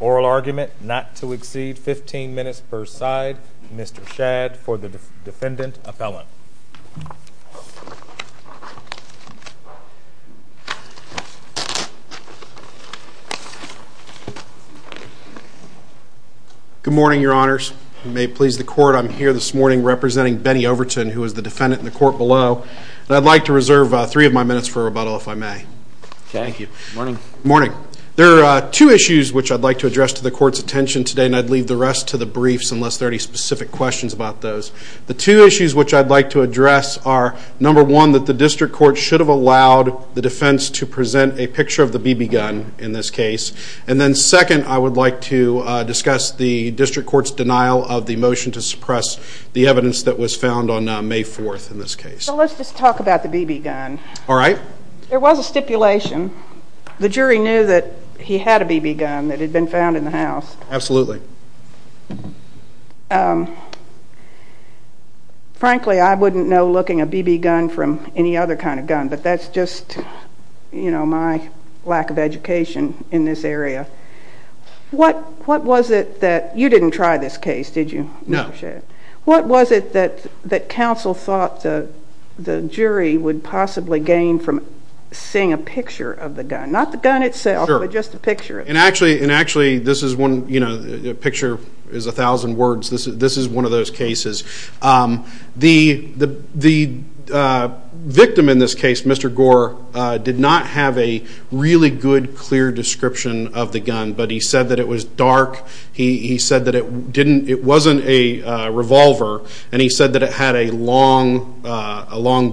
Oral argument not to exceed 15 minutes per side. Mr. Shad for the defendant a felon. Good morning your honors. May it please the court I'm here this morning representing Bennie Overton who is the defendant in the court below. I'd like to reserve three of my minutes for rebuttal if I may. Thank you. Morning. Morning. There are two issues which I'd like to address to the court's attention today and I'd leave the rest to the briefs unless there are any specific questions about those. The two issues which I'd like to address are number one that the district court should have allowed the defense to present a picture of the BB gun in this case and then second I would like to discuss the district court's denial of the motion to suppress the evidence that was found on May 4th in this case. So let's just talk about the BB gun. Alright. There was a stipulation. The jury knew that he had a BB gun that had been found in the house. Absolutely. Frankly I wouldn't know looking a BB gun from any other kind of gun but that's just you know my lack of education in this area. What was it that you didn't try this case did you? No. What was it that council thought the jury would possibly gain from seeing a picture of the gun? Not the gun itself but just the picture. And actually this is one you know the picture is a thousand words. This is one of those cases. The victim in this case Mr. Gore did not have a really good clear description of the gun but he said that it was dark. He said that it wasn't a revolver and he said that it had a long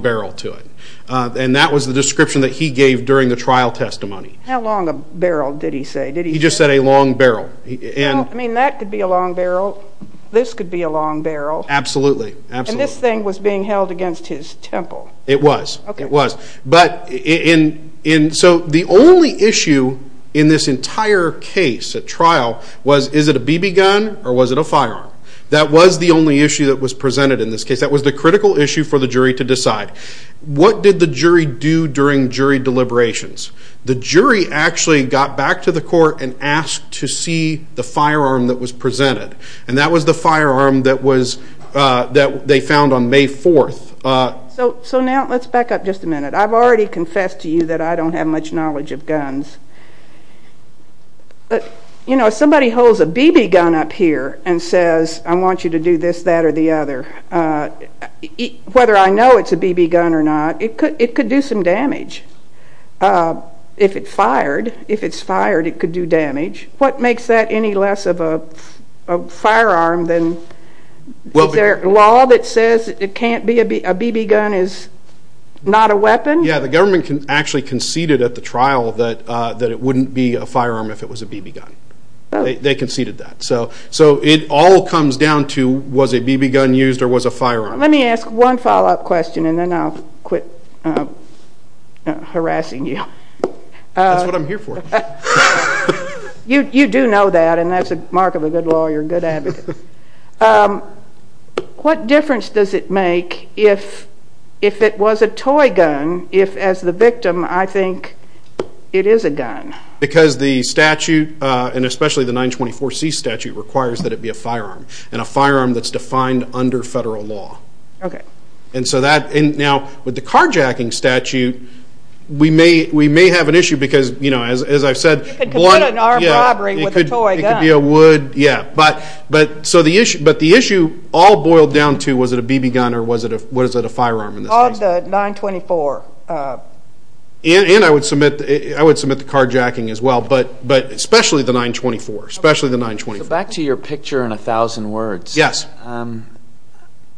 barrel to it. And that was the description that he gave during the trial testimony. How long a barrel did he say? He just said a long barrel. I mean that could be a long barrel. This could be a long barrel. Absolutely. And this thing was being held against his temple. It was. It was. So the only issue in this entire case at trial was is it a BB gun or was it a firearm? That was the only issue that was presented in this case. That was the critical issue for the jury to decide. What did the jury do during jury deliberations? The jury actually got back to the court and asked to see the firearm that was presented. And that was the firearm that was that they found on May 4th. So now let's back up just a minute. I've already confessed to you that I don't have much knowledge of guns. But you know if somebody holds a BB gun up here and says I want you to do this that or the other. Whether I know it's a BB gun or not. It could it could do some damage if it fired. If it's fired it could do damage. What makes that any less of a firearm then? Is there a law that says it can't be a BB gun is not a weapon? Yeah the government can actually conceded at the trial that that it wouldn't be a firearm if it was a BB gun. They conceded that. So so it all comes down to was a BB gun used or was a firearm? Let me ask one follow-up question and then I'll quit harassing you. You do know that and that's a mark of a good lawyer, good advocate. What difference does it make if if it was a toy gun if as the victim I think it is a gun? Because the statute and especially the 924 C statute requires that it be a firearm and a firearm that's defined under federal law. Okay. And so that and now with the carjacking statute we may we may have an issue because you know as I've said it could be a wood yeah but but so the issue but the issue all boiled down to was it a BB gun or was it a what is it a firearm in the 924? And I would submit I would submit the carjacking as but but especially the 924 especially the 924. Back to your picture in a thousand words. Yes.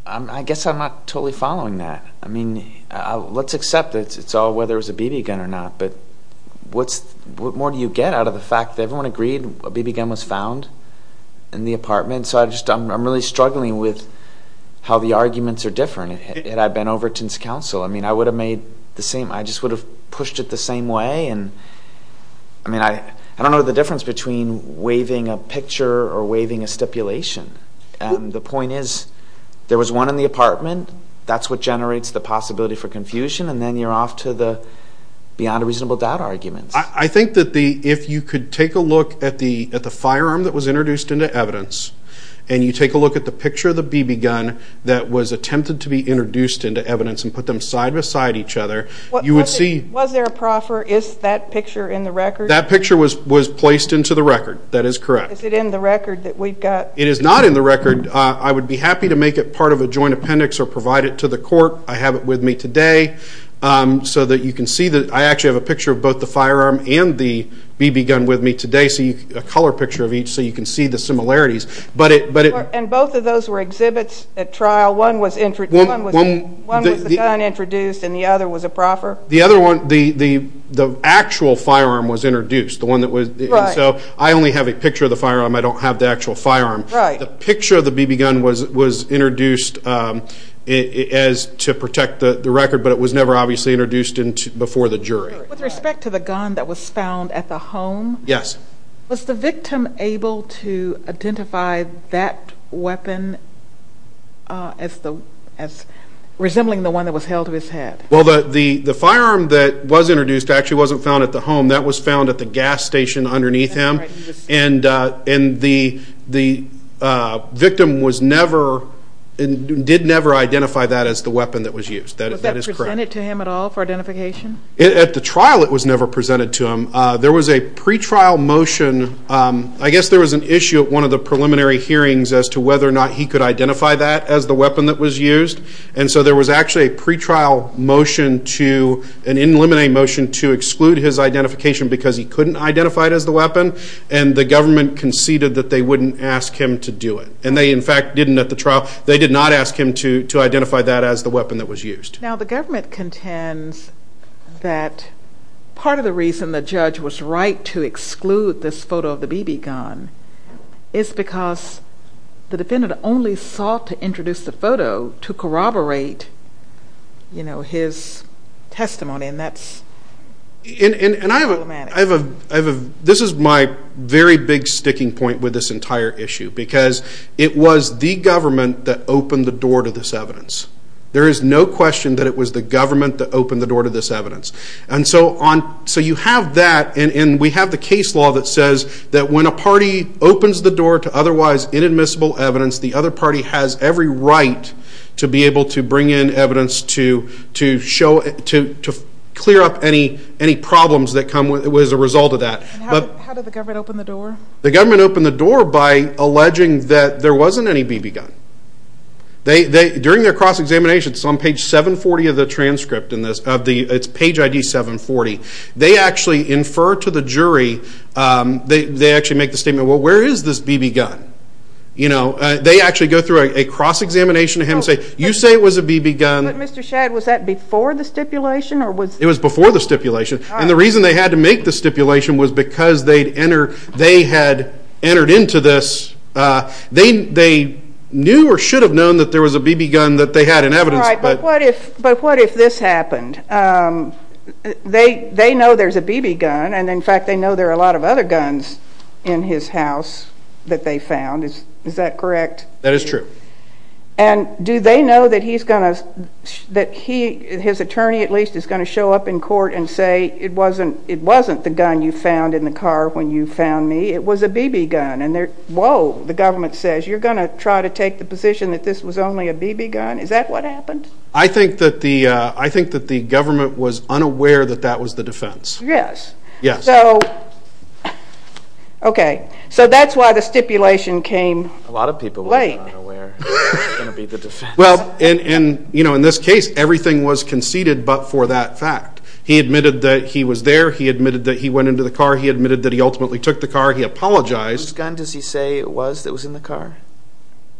I guess I'm not totally following that. I mean let's accept it's all whether it's a BB gun or not but what's what more do you get out of the fact that everyone agreed a BB gun was found in the apartment so I just I'm really struggling with how the arguments are different. Had I been over to I mean I would have made the same I just would have pushed it the same way and I mean I I don't know the difference between waving a picture or waving a stipulation and the point is there was one in the apartment that's what generates the possibility for confusion and then you're off to the beyond a reasonable doubt arguments. I think that the if you could take a look at the at the firearm that was introduced into evidence and you take a look at the picture of the BB gun that was and put them side-by-side each other you would see. Was there a proffer is that picture in the record? That picture was was placed into the record that is correct. Is it in the record that we've got? It is not in the record I would be happy to make it part of a joint appendix or provide it to the court I have it with me today so that you can see that I actually have a picture of both the firearm and the BB gun with me today see a color picture of each so you can see the similarities but it but it and both of those were exhibits at trial one was introduced and the other was a proffer the other one the the the actual firearm was introduced the one that was so I only have a picture of the firearm I don't have the actual firearm right the picture of the BB gun was was introduced as to protect the record but it was never obviously introduced into before the jury with respect to the gun that was found at the home yes was the victim able to identify that weapon as the as resembling the one that was held to his head well the the the firearm that was introduced actually wasn't found at the home that was found at the gas station underneath him and in the the victim was never and did never identify that as the weapon that was used that is that is it was never presented to him there was a pretrial motion I guess there was an issue at one of the preliminary hearings as to whether or not he could identify that as the weapon that was used and so there was actually a pretrial motion to an in limine motion to exclude his identification because he couldn't identify it as the weapon and the government conceded that they wouldn't ask him to do it and they in fact didn't at the trial they did not ask him to to identify that as the weapon that was used now the government contends that part of the reason the judge was right to exclude this photo of the BB gun is because the defendant only sought to introduce the photo to corroborate you know his testimony and that's in and I have a I have a this is my very big sticking point with this entire issue because it was the government that opened the door to this evidence there is no question that it was the government that opened the door to this evidence and so on so you have that and we have the case law that says that when a party opens the door to otherwise inadmissible evidence the other party has every right to be able to bring in evidence to to show it to clear up any any problems that come with it was a result of that but the government opened the door the by alleging that there wasn't any BB gun they during their cross-examination some page 740 of the transcript in this of the its page ID 740 they actually infer to the jury they actually make the statement well where is this BB gun you know they actually go through a cross-examination to him say you say it was a BB gun before the stipulation or was it was before the stipulation and the reason they had to make the stipulation was because they'd enter they had entered into this they they knew or should have known that there was a BB gun that they had an evidence but what if but what if this happened they they know there's a BB gun and in fact they know there are a lot of other guns in his house that they found is is that correct that is true and do they know that he's gonna that he his attorney at least is going to show up in court and say it wasn't it wasn't the gun you found in the car when you found me it was a BB gun and there whoa the government says you're gonna try to take the position that this was only a BB gun is that what happened I think that the I think that the government was unaware that that was the defense yes yes so okay so that's why the stipulation a lot of people well and and you know in this case everything was conceded but for that fact he admitted that he was there he admitted that he went into the car he admitted that he ultimately took the car he apologized gun does he say it was that was in the car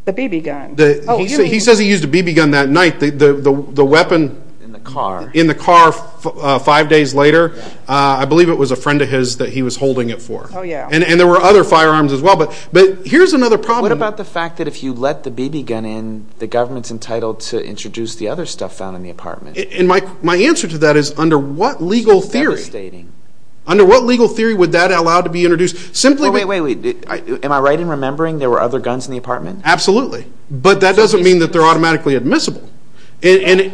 the BB gun he says he used a BB gun that night the the weapon in the car in the car five days later I believe it was a friend of yeah and and there were other firearms as well but but here's another problem about the fact that if you let the BB gun in the government's entitled to introduce the other stuff found in the apartment in my my answer to that is under what legal theory stating under what legal theory would that allow to be introduced simply wait wait wait am I right in remembering there were other guns in the apartment absolutely but that doesn't mean that they're automatically admissible and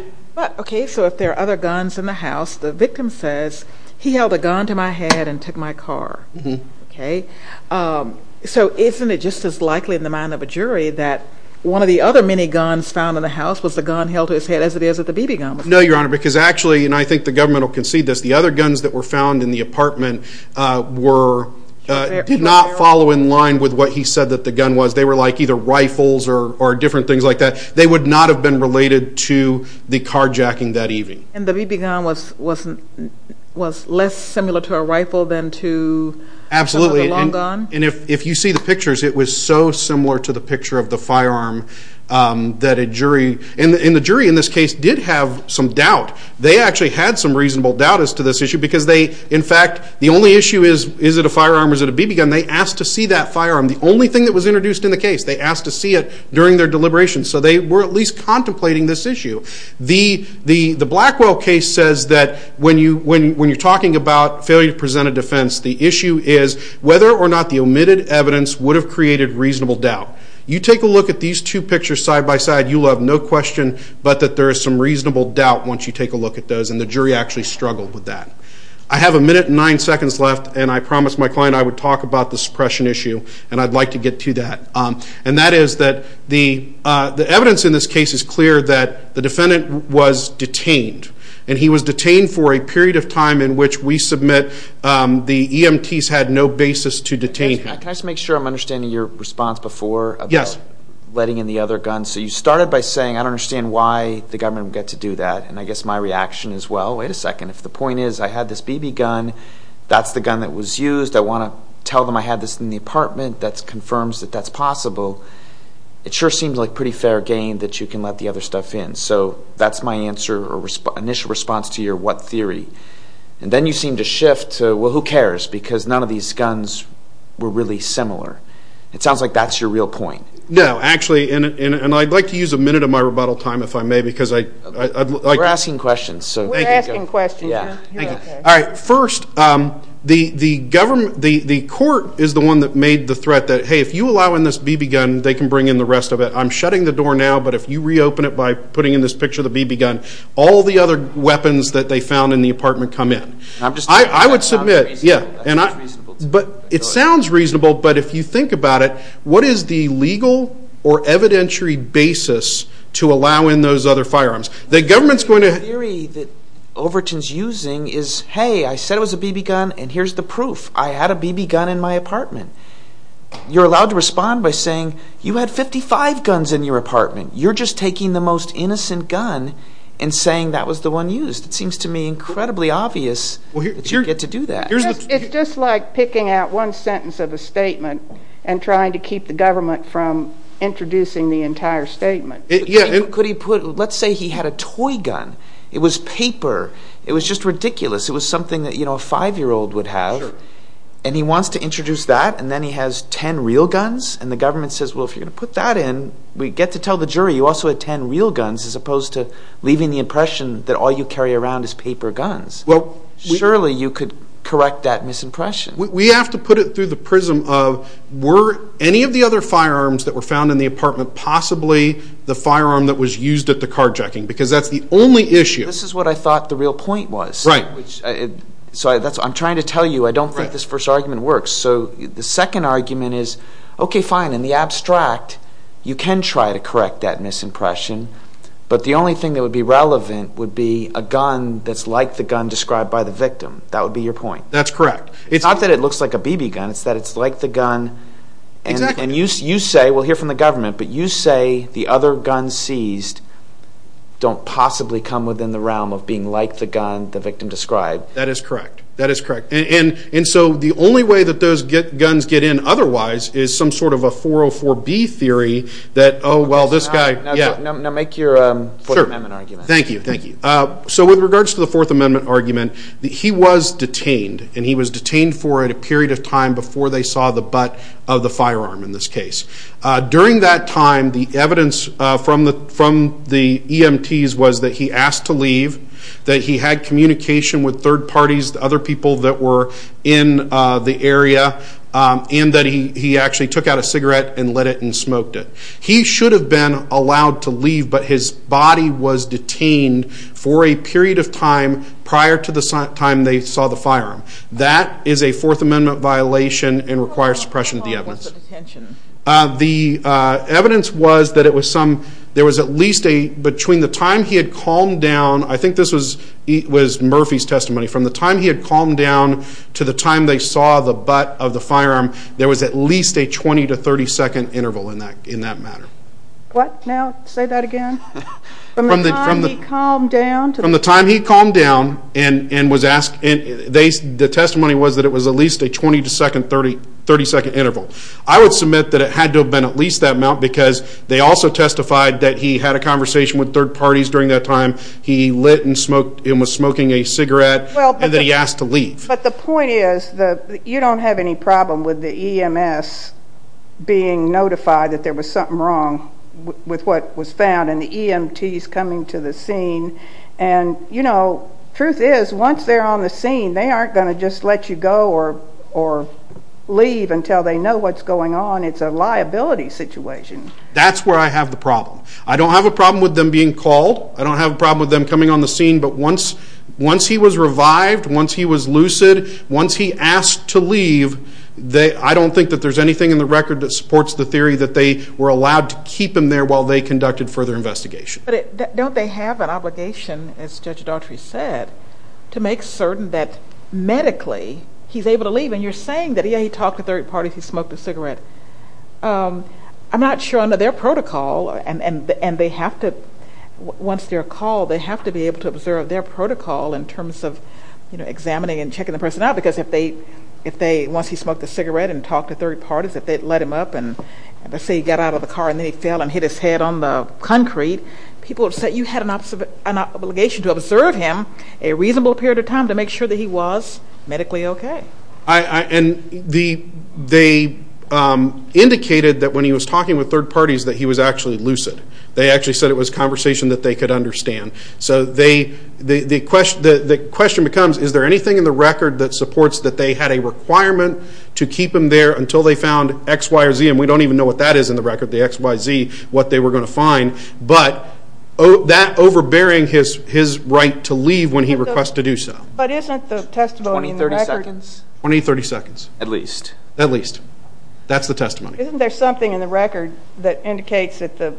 okay so if other guns in the house the victim says he held a gun to my head and took my car okay so isn't it just as likely in the mind of a jury that one of the other many guns found in the house was the gun held to his head as it is at the BB gun no your honor because actually and I think the government will concede this the other guns that were found in the apartment were did not follow in line with what he said that the gun was they were like either rifles or different things like that they would not have been related to the carjacking that evening and the BB gun was wasn't was less similar to a rifle than to absolutely and if if you see the pictures it was so similar to the picture of the firearm that a jury in the jury in this case did have some doubt they actually had some reasonable doubt as to this issue because they in fact the only issue is is it a firearm was it a BB gun they asked to see that firearm the only thing that was introduced in the case they asked to see it during their deliberation so they were at least contemplating this issue the the the Blackwell case says that when you when you're talking about failure to present a defense the issue is whether or not the omitted evidence would have created reasonable doubt you take a look at these two pictures side-by-side you'll have no question but that there is some reasonable doubt once you take a look at those and the jury actually struggled with that I have a minute nine seconds left and I promised my client I would talk about the suppression issue and I'd like to get to that and that is that the the evidence in this case is clear that the defendant was detained and he was detained for a period of time in which we submit the EMTs had no basis to detain can I just make sure I'm understanding your response before yes letting in the other guns so you started by saying I don't understand why the government would get to do that and I guess my reaction is well wait a second if the point is I had this BB gun that's the gun that was used I want to tell them I had this in the apartment that's confirms that that's possible it sure seems like pretty fair game that you can let the other stuff in so that's my answer or initial response to your what theory and then you seem to shift well who cares because none of these guns were really similar it sounds like that's your real point no actually in it and I'd like to use a the government the the court is the one that made the threat that hey if you allow in this BB gun they can bring in the rest of it I'm shutting the door now but if you reopen it by putting in this picture the BB gun all the other weapons that they found in the apartment come in I'm just I would submit yeah and I but it sounds reasonable but if you think about it what is the legal or evidentiary basis to allow in those other firearms the government's going to Overton's using is hey I said it was a BB gun and here's the proof I had a BB gun in my apartment you're allowed to respond by saying you had 55 guns in your apartment you're just taking the most innocent gun and saying that was the one used it seems to me incredibly obvious well you get to do that it's just like picking out one sentence of a statement and trying to keep the government from introducing the entire statement yeah could he put let's say he had a toy gun it was paper it was just ridiculous it was something that you know a five-year-old would have and he wants to introduce that and then he has ten real guns and the government says well if you're gonna put that in we get to tell the jury you also had ten real guns as opposed to leaving the impression that all you carry around is paper guns well surely you could correct that misimpression we have to put it the prism of were any of the other firearms that were found in the apartment possibly the firearm that was used at the carjacking because that's the only issue this is what I thought the real point was right so that's what I'm trying to tell you I don't think this first argument works so the second argument is okay fine in the abstract you can try to correct that misimpression but the only thing that would be relevant would be a gun that's like the gun described by the victim that correct it's not that it looks like a BB gun it's that it's like the gun and you see you say we'll hear from the government but you say the other guns seized don't possibly come within the realm of being like the gun the victim described that is correct that is correct and and so the only way that those get guns get in otherwise is some sort of a 404 B theory that oh well this guy yeah make your argument thank you thank you so with regards to the Fourth Amendment argument he was detained and he was detained for at a period of time before they saw the butt of the firearm in this case during that time the evidence from the from the EMTs was that he asked to leave that he had communication with third parties the other people that were in the area and that he actually took out a cigarette and let it and smoked it he should have been allowed to leave but his body was detained for a period of time prior to the time they saw the firearm that is a Fourth Amendment violation and requires suppression of the evidence the evidence was that it was some there was at least a between the time he had calmed down I think this was it was Murphy's testimony from the time he had calmed down to the time they saw the butt of the firearm there was at least a 20 to 30 second interval in that in that matter what now say that again from the from the calm down to the time he calmed down and and was asked and they the testimony was that it was at least a 20 to second 30 30 second interval I would submit that it had to have been at least that amount because they also testified that he had a conversation with third parties during that time he lit and smoked him was smoking a cigarette well and then he asked to leave but the point is you don't have any problem with the EMS being notified that there was something wrong with what was found and the EMTs coming to the scene and you know truth is once they're on the scene they aren't going to just let you go or or leave until they know what's going on it's a liability situation that's where I have the problem I don't have a problem with them being called I don't have a problem with them coming on the scene but once once he was revived once he was lucid once he asked to leave they I don't think that there's anything in the record that supports the theory that they were allowed to keep him there while they conducted further investigation but don't they have an obligation as Judge Daughtry said to make certain that medically he's able to leave and you're saying that he talked to third parties he smoked a cigarette I'm not sure under their call they have to be able to observe their protocol in terms of you know examining and checking the person out because if they if they once he smoked a cigarette and talked to third parties if they'd let him up and let's say he got out of the car and then he fell and hit his head on the concrete people have said you had an opposite an obligation to observe him a reasonable period of time to make sure that he was medically okay I and the they indicated that when he was talking with third parties that he was actually lucid they actually said it was conversation that they could understand so they the question that the question becomes is there anything in the record that supports that they had a requirement to keep him there until they found X Y or Z and we don't even know what that is in the record the XYZ what they were going to find but oh that overbearing his his right to leave when he requests to do so but isn't the testimony 30 seconds 20 30 seconds at least at least that's the testimony isn't there something in the record that indicates that the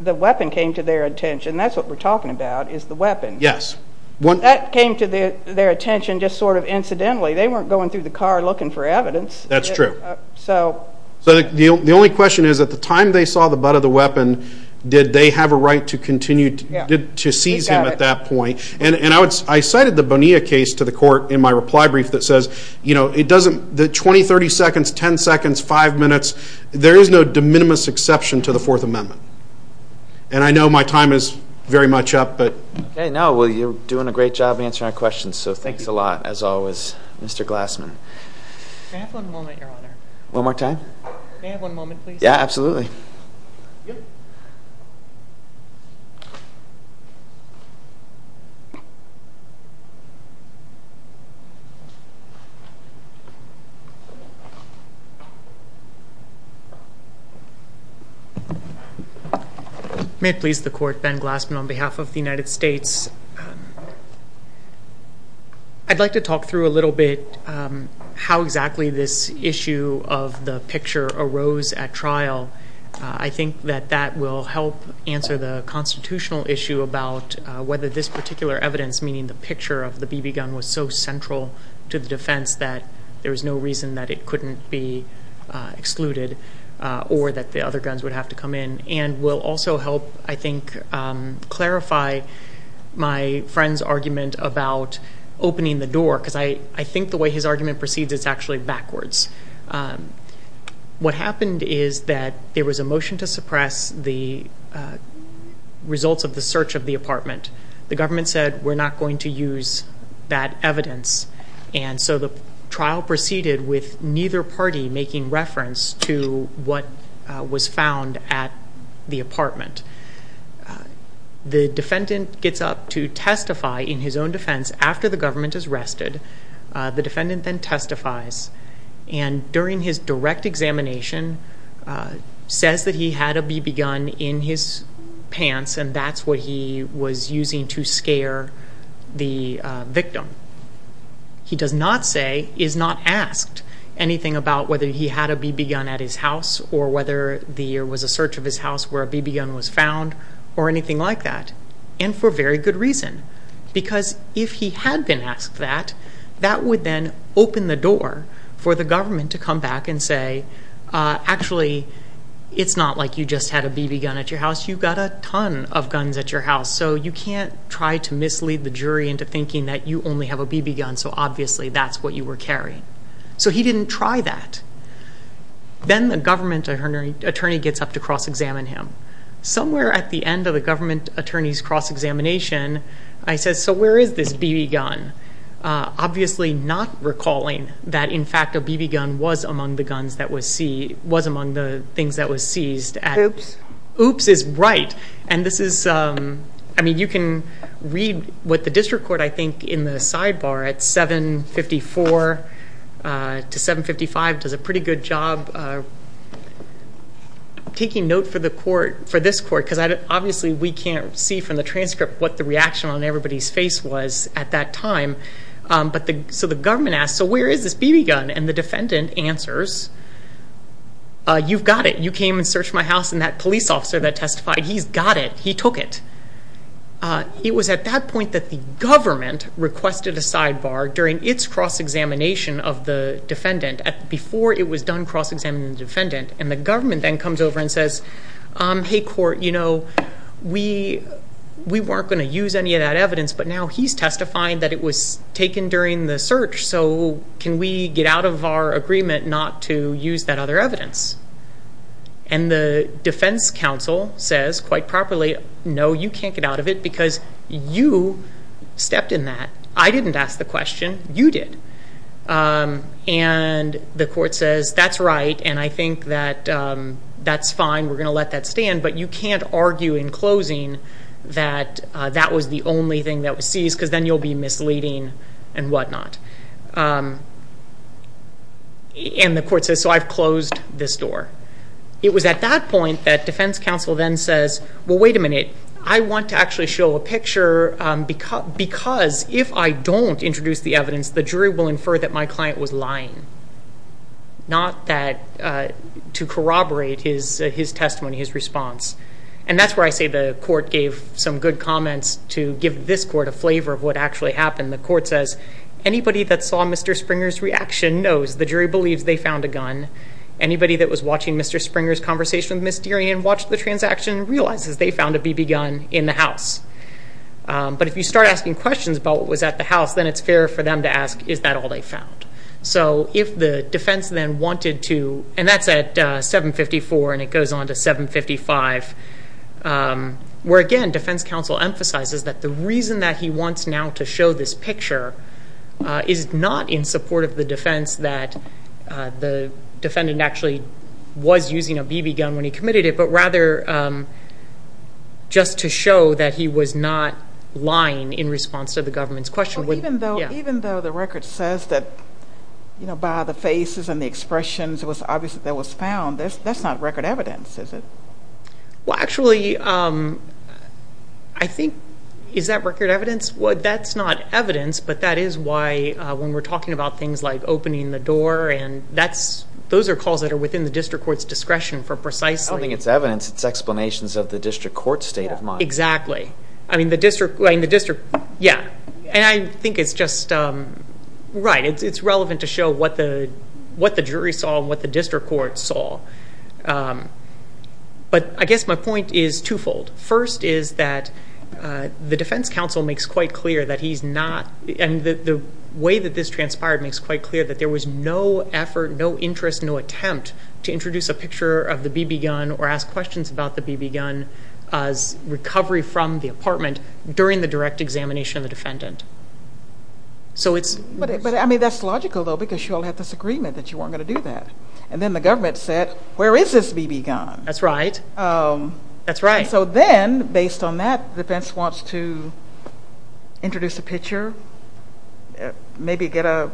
the weapon came to their attention that's what we're talking about is the weapon yes one that came to their attention just sort of incidentally they weren't going through the car looking for evidence that's true so so the only question is at the time they saw the butt of the weapon did they have a right to continue to seize him at that point and and I would I cited the Bonilla case to the court in my reply brief that says you know it doesn't the 20 30 seconds 10 seconds five minutes there is no de minimis exception to the Fourth Amendment and I know my time is very much up but hey no well you're doing a great job answering our questions so thanks a lot as always mr. Glassman one more time yeah absolutely may it please the court Ben Glassman on behalf of the United States I'd like to talk through a little bit how exactly this issue of the picture arose at trial I think that that will help answer the constitutional issue about whether this particular evidence meaning the picture of the be excluded or that the other guns would have to come in and will also help I think clarify my friend's argument about opening the door because I I think the way his argument proceeds it's actually backwards what happened is that there was a motion to suppress the results of the search of the apartment the government said we're not going to use that evidence and so the trial proceeded with neither party making reference to what was found at the apartment the defendant gets up to testify in his own defense after the government is rested the defendant then testifies and during his direct examination says that he had to be begun in his pants and that's what he was using to scare the victim he does not say is not asked anything about whether he had a BB gun at his house or whether the year was a search of his house where a BB gun was found or anything like that and for very good reason because if he had been asked that that would then open the door for the government to come back and say actually it's not like you just had a BB gun at your house you got a ton of guns at your house so you can't try to mislead the jury into thinking that you only have a BB gun so obviously that's what you were carrying so he didn't try that then the government attorney attorney gets up to cross-examine him somewhere at the end of the government attorneys cross-examination I said so where is this BB gun obviously not recalling that in fact a BB gun was among the guns that was see was among the things that was seized at oops oops is right and this is I mean you can read what the district court I think in the sidebar at 754 to 755 does a pretty good job taking note for the court for this court because I obviously we can't see from the transcript what the reaction on everybody's face was at that time but the so the government asked so where is this BB gun and the defendant answers you've got it you came and searched my house and that police officer that testified he's got it he took it it was at that point that the government requested a sidebar during its cross-examination of the defendant at before it was done cross-examining defendant and the government then comes over and says hey court you know we we weren't going to get out of our agreement not to use that other evidence and the defense counsel says quite properly no you can't get out of it because you stepped in that I didn't ask the question you did and the court says that's right and I think that that's fine we're gonna let that stand but you can't argue in closing that that was the only thing that was seized because then you'll be and the court says so I've closed this door it was at that point that defense counsel then says well wait a minute I want to actually show a picture because because if I don't introduce the evidence the jury will infer that my client was lying not that to corroborate his his testimony his response and that's where I say the court gave some good comments to give this court a flavor of the court says anybody that saw mr. Springer's reaction knows the jury believes they found a gun anybody that was watching mr. Springer's conversation with Miss Deering and watched the transaction realizes they found a BB gun in the house but if you start asking questions about what was at the house then it's fair for them to ask is that all they found so if the defense then wanted to and that's at 754 and it goes on to 755 where again defense counsel emphasizes that the reason that he wants now to show this picture is not in support of the defense that the defendant actually was using a BB gun when he committed it but rather just to show that he was not lying in response to the government's question well even though even though the record says that you know by the faces and the expressions it was obviously that was found this that's not record evidence is it well actually I think is that record evidence what that's not evidence but that is why when we're talking about things like opening the door and that's those are calls that are within the district courts discretion for precisely I think it's evidence it's explanations of the district court state of mind exactly I mean the district way in the district yeah and I think it's just right it's relevant to show what the what the jury saw what the district court saw but I guess my point is twofold first is that the defense counsel makes quite clear that he's not and the way that this transpired makes quite clear that there was no effort no interest no attempt to introduce a picture of the BB gun or ask questions about the BB gun as recovery from the apartment during the that's logical though because you all have this agreement that you weren't gonna do that and then the government said where is this BB gun that's right that's right so then based on that defense wants to introduce a picture maybe get a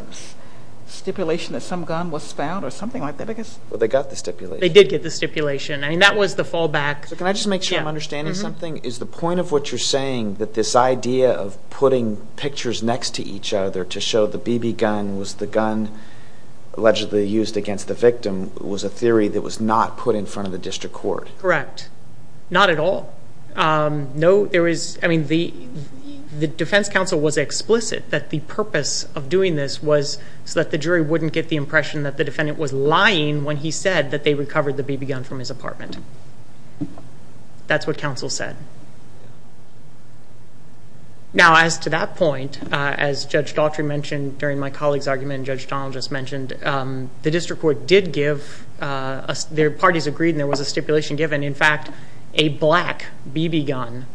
stipulation that some gun was found or something like that I guess well they got the stipulation they did get the stipulation I mean that was the fallback so can I just make sure I'm understanding something is the point of what you're saying that this idea of putting pictures next to each other to show the BB gun was the gun allegedly used against the victim was a theory that was not put in front of the district court correct not at all no there is I mean the the defense counsel was explicit that the purpose of doing this was so that the jury wouldn't get the impression that the defendant was lying when he said that they recovered the BB gun from his apartment that's what counsel said now as to that point as judge Daughtry mentioned during my colleagues argument judge Donald just mentioned the district court did give their parties agreed there was a stipulation given in fact a black BB gun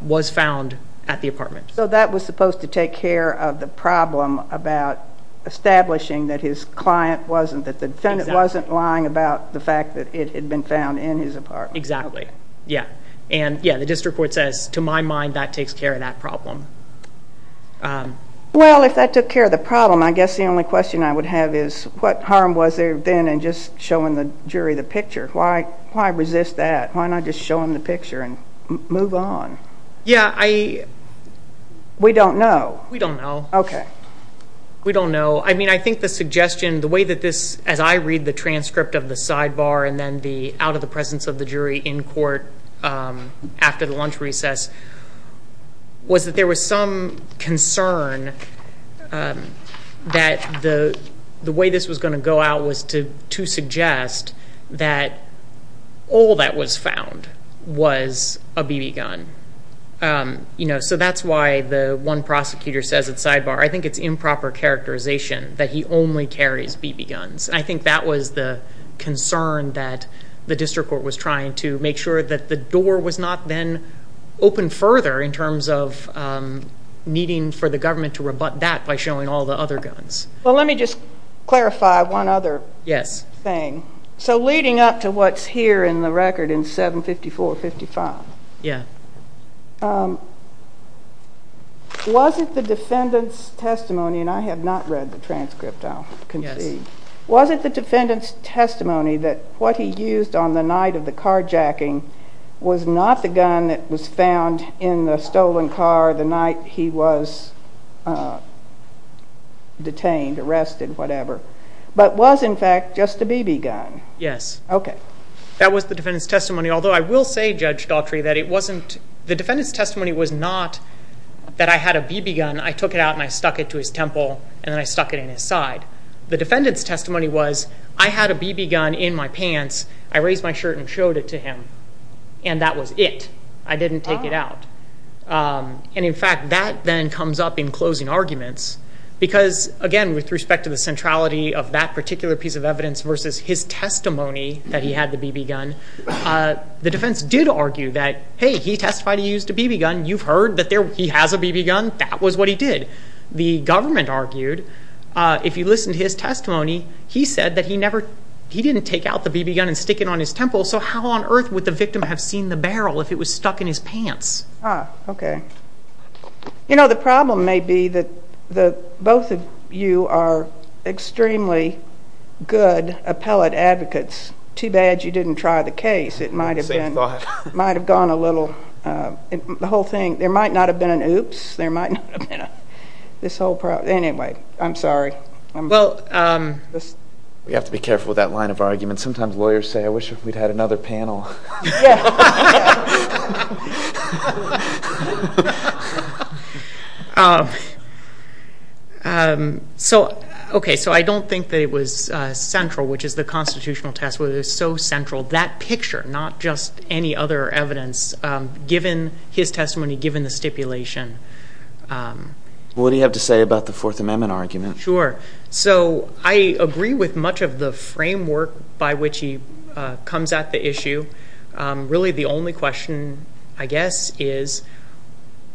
was found at the apartment so that was supposed to take care of the problem about establishing that his client wasn't that it had been found in his apartment exactly yeah and yeah the district court says to my mind that takes care of that problem well if that took care of the problem I guess the only question I would have is what harm was there then and just showing the jury the picture why why resist that why not just showing the picture and move on yeah I we don't know we don't know okay we don't know I mean I think the suggestion the way that this as I read the transcript of the sidebar and then the out-of-the-presence of the jury in court after the lunch recess was that there was some concern that the the way this was going to go out was to to suggest that all that was found was a BB gun you know so that's why the one prosecutor says it's sidebar I think it's improper characterization that he only carries BB guns I think that was the concern that the district court was trying to make sure that the door was not then open further in terms of needing for the government to rebut that by showing all the other guns well let me just clarify one other yes thing so leading up to what's here in the record in 754 55 yeah was it the defendants testimony and I have not read the transcript I'll continue was it the defendants testimony that what he used on the night of the carjacking was not the gun that was found in the stolen car the night he was detained arrested whatever but was in fact just a BB gun yes okay that was the defendants testimony although I will say Judge Daltrey that it wasn't the defendants testimony was not that I had a BB gun I took it and I stuck it to his temple and then I stuck it in his side the defendants testimony was I had a BB gun in my pants I raised my shirt and showed it to him and that was it I didn't take it out and in fact that then comes up in closing arguments because again with respect to the centrality of that particular piece of evidence versus his testimony that he had the BB gun the defense did argue that hey he testified he used a BB gun you've heard that there he has a BB gun that was what he did the government argued if you listen to his testimony he said that he never he didn't take out the BB gun and stick it on his temple so how on earth would the victim have seen the barrel if it was stuck in his pants okay you know the problem may be that the both of you are extremely good appellate advocates too bad you didn't try the case it might have been might have gone a little the whole thing there might not have been an oops there might not have been a this whole problem anyway I'm sorry well we have to be careful with that line of argument sometimes lawyers say I wish we'd had another panel so okay so I don't think that it was central which is the evidence given his testimony given the stipulation what do you have to say about the Fourth Amendment argument sure so I agree with much of the framework by which he comes at the issue really the only question I guess is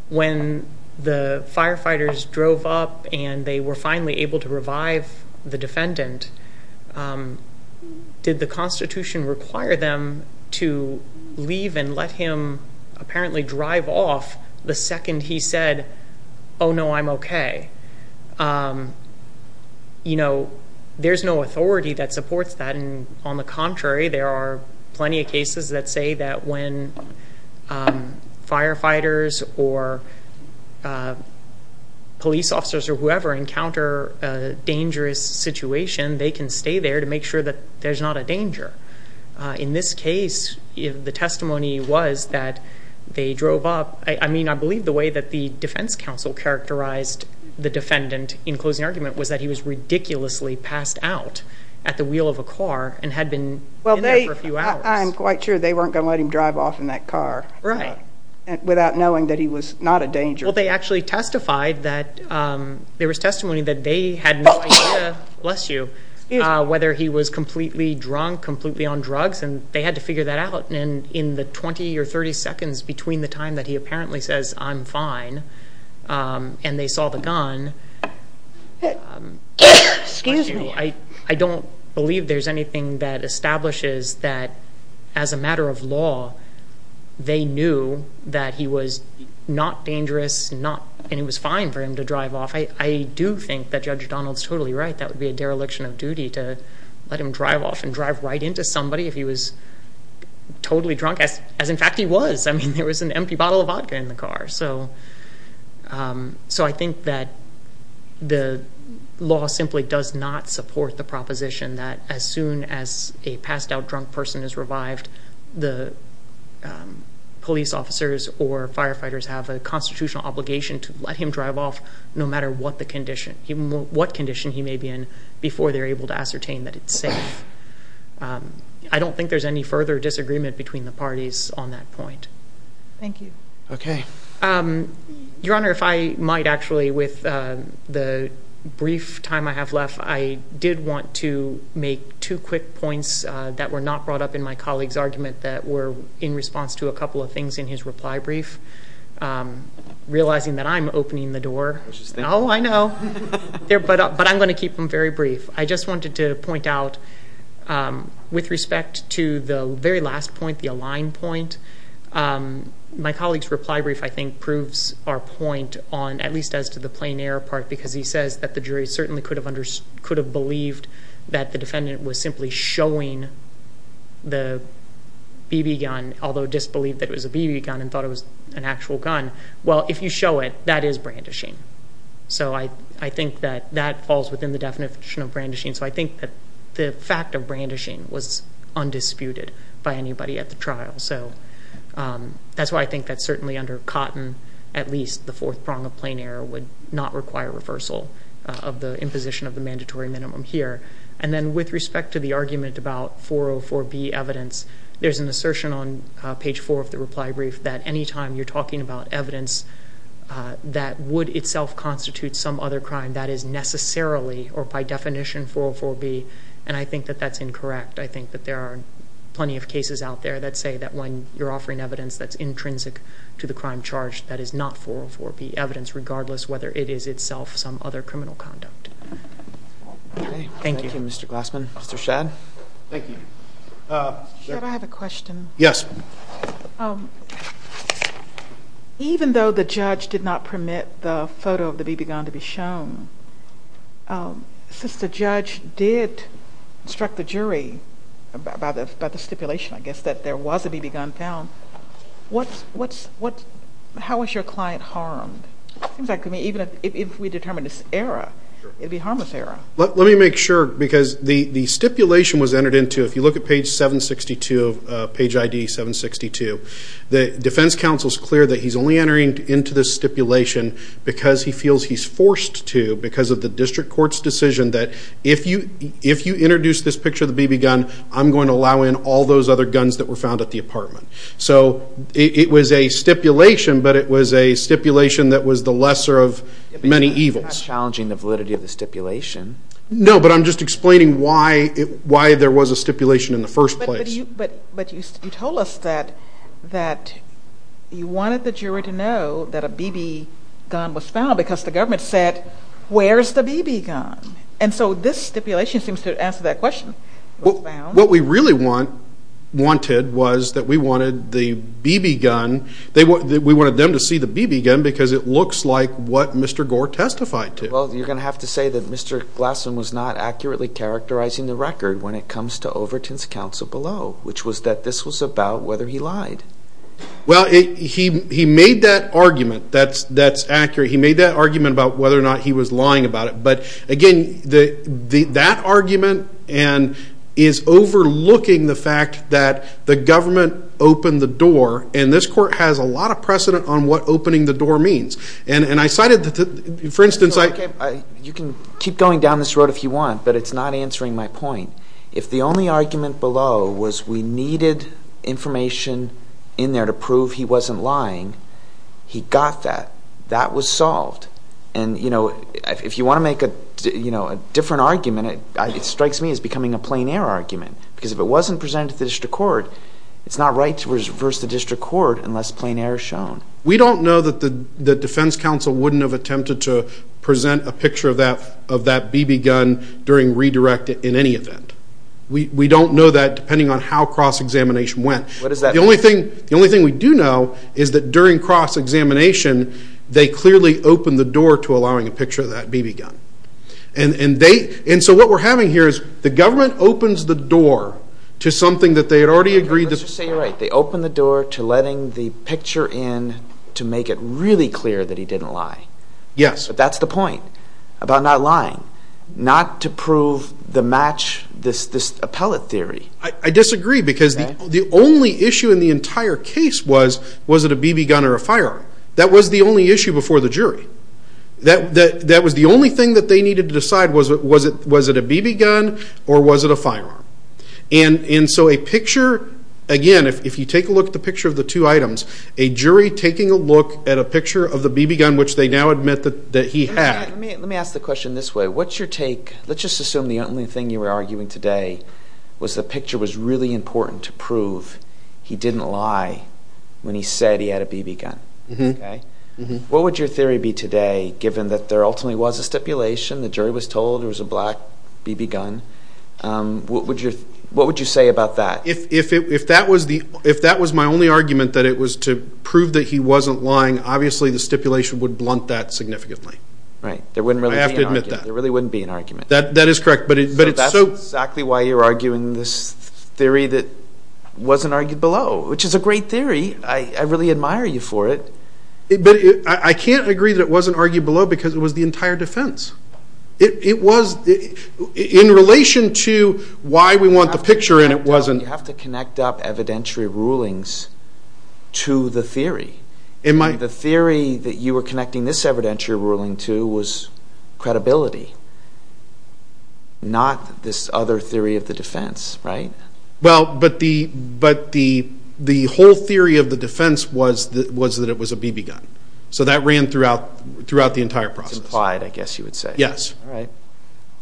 when the firefighters drove up and they were finally able to revive the apparently drive off the second he said oh no I'm okay you know there's no authority that supports that and on the contrary there are plenty of cases that say that when firefighters or police officers or whoever encounter a dangerous situation they can stay there to make sure that there's not a that they drove up I mean I believe the way that the defense counsel characterized the defendant in closing argument was that he was ridiculously passed out at the wheel of a car and had been well they I'm quite sure they weren't gonna let him drive off in that car right and without knowing that he was not a danger well they actually testified that there was testimony that they had less you whether he was completely drunk completely on drugs and they had to figure that out and in the 20 or 30 seconds between the time that he apparently says I'm fine and they saw the gun excuse me I I don't believe there's anything that establishes that as a matter of law they knew that he was not dangerous not and it was fine for him to drive off I do think that Judge Donald's totally right that would be a dereliction of duty to let him drive off and drive right into somebody if he was totally drunk as as in fact he was I mean there was an empty bottle of vodka in the car so so I think that the law simply does not support the proposition that as soon as a passed out drunk person is revived the police officers or firefighters have a constitutional obligation to let him drive off no matter what the condition even what condition he before they're able to ascertain that it's safe I don't think there's any further disagreement between the parties on that point thank you okay your honor if I might actually with the brief time I have left I did want to make two quick points that were not brought up in my colleagues argument that were in response to a couple of things in his reply brief realizing that I'm opening the very brief I just wanted to point out with respect to the very last point the aligned point my colleagues reply brief I think proves our point on at least as to the plain air part because he says that the jury certainly could have understood could have believed that the defendant was simply showing the BB gun although disbelieved that it was a BB gun and thought it was an actual gun well if you show it that is brandishing so I I think that that falls within the definition of brandishing so I think that the fact of brandishing was undisputed by anybody at the trial so that's why I think that's certainly under cotton at least the fourth prong of plain air would not require reversal of the imposition of the mandatory minimum here and then with respect to the argument about 404 B evidence there's an assertion on page four of the reply brief that anytime you're talking about evidence that would itself constitute some other crime that is necessarily or by definition 404 B and I think that that's incorrect I think that there are plenty of cases out there that say that when you're offering evidence that's intrinsic to the crime charge that is not 404 B evidence regardless whether it is itself some other criminal conduct thank you mr. Glassman mr. Shad yes even though the judge did not permit the photo of the BB gun to be shown since the judge did struck the jury about it but the stipulation I guess that there was a BB gun down what's what's what how is your client harmed exactly me even if we determine this era it'd be harmless era let me make sure because the the stipulation was entered into if you look at page 762 page ID 762 the defense counsel is clear that he's only entering into this stipulation because he feels he's forced to because of the district court's decision that if you if you introduce this picture of the BB gun I'm going to allow in all those other guns that were found at the apartment so it was a stipulation but it was a stipulation that was the lesser of many evils challenging the validity of the stipulation no but I'm just explaining why it why there was a stipulation in the first place but but you told us that that you wanted the jury to know that a BB gun was found because the government said where's the BB gun and so this stipulation seems to answer that question well what we really want wanted was that we wanted the BB gun they were that we wanted them to see the BB gun because it looks like what mr. Gore testified to well you're gonna have to say that mr. Glassman was not accurately characterizing the record when it comes to Overton's counsel below which was that this was about whether he lied well he he that argument that's that's accurate he made that argument about whether or not he was lying about it but again the the that argument and is overlooking the fact that the government opened the door and this court has a lot of precedent on what opening the door means and and I cited that for instance I you can keep going down this road if you want but it's not answering my point if the he got that that was solved and you know if you want to make a you know a different argument it strikes me as becoming a plain-air argument because if it wasn't presented to the district court it's not right to reverse the district court unless plain-air shown we don't know that the the defense counsel wouldn't have attempted to present a picture of that of that BB gun during redirect in any event we don't know that depending on how cross-examination went what is that the only thing the only thing we do know is that during cross-examination they clearly opened the door to allowing a picture of that BB gun and and they and so what we're having here is the government opens the door to something that they had already agreed to say you're right they open the door to letting the picture in to make it really clear that he didn't lie yes but that's the point about not lying not to prove the match this this appellate theory I disagree because the only issue in the entire case was was it a BB gun or a firearm that was the only issue before the jury that that that was the only thing that they needed to decide was it was it was it a BB gun or was it a firearm and in so a picture again if you take a look at the picture of the two items a jury taking a look at a picture of the BB gun which they now admit that that he had let me ask the question this way what's your take let's just assume the only thing you were arguing today was the picture was really important to prove he didn't lie when he said he had a BB gun mm-hmm what would your theory be today given that there ultimately was a stipulation the jury was told there was a black BB gun what would you what would you say about that if it if that was the if that was my only argument that it was to prove that he wasn't lying obviously the stipulation would blunt that significantly right there wouldn't really have to admit that there really wouldn't be an theory that wasn't argued below which is a great theory I really admire you for it but I can't agree that it wasn't argued below because it was the entire defense it was in relation to why we want the picture and it wasn't have to connect up evidentiary rulings to the theory in my the theory that you were connecting this evidentiary ruling to was credibility not this other theory of the defense right well but the but the the whole theory of the defense was that was that it was a BB gun so that ran throughout throughout the entire process implied I guess you would say yes all right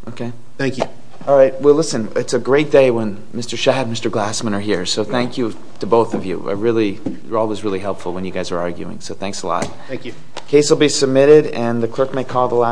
okay thank you all right well listen it's a great day when mr. Shad mr. Glassman are here so thank you to both of you I really you're always really helpful when you guys are arguing so thanks a lot thank you case will be submitted and the clerk may call the last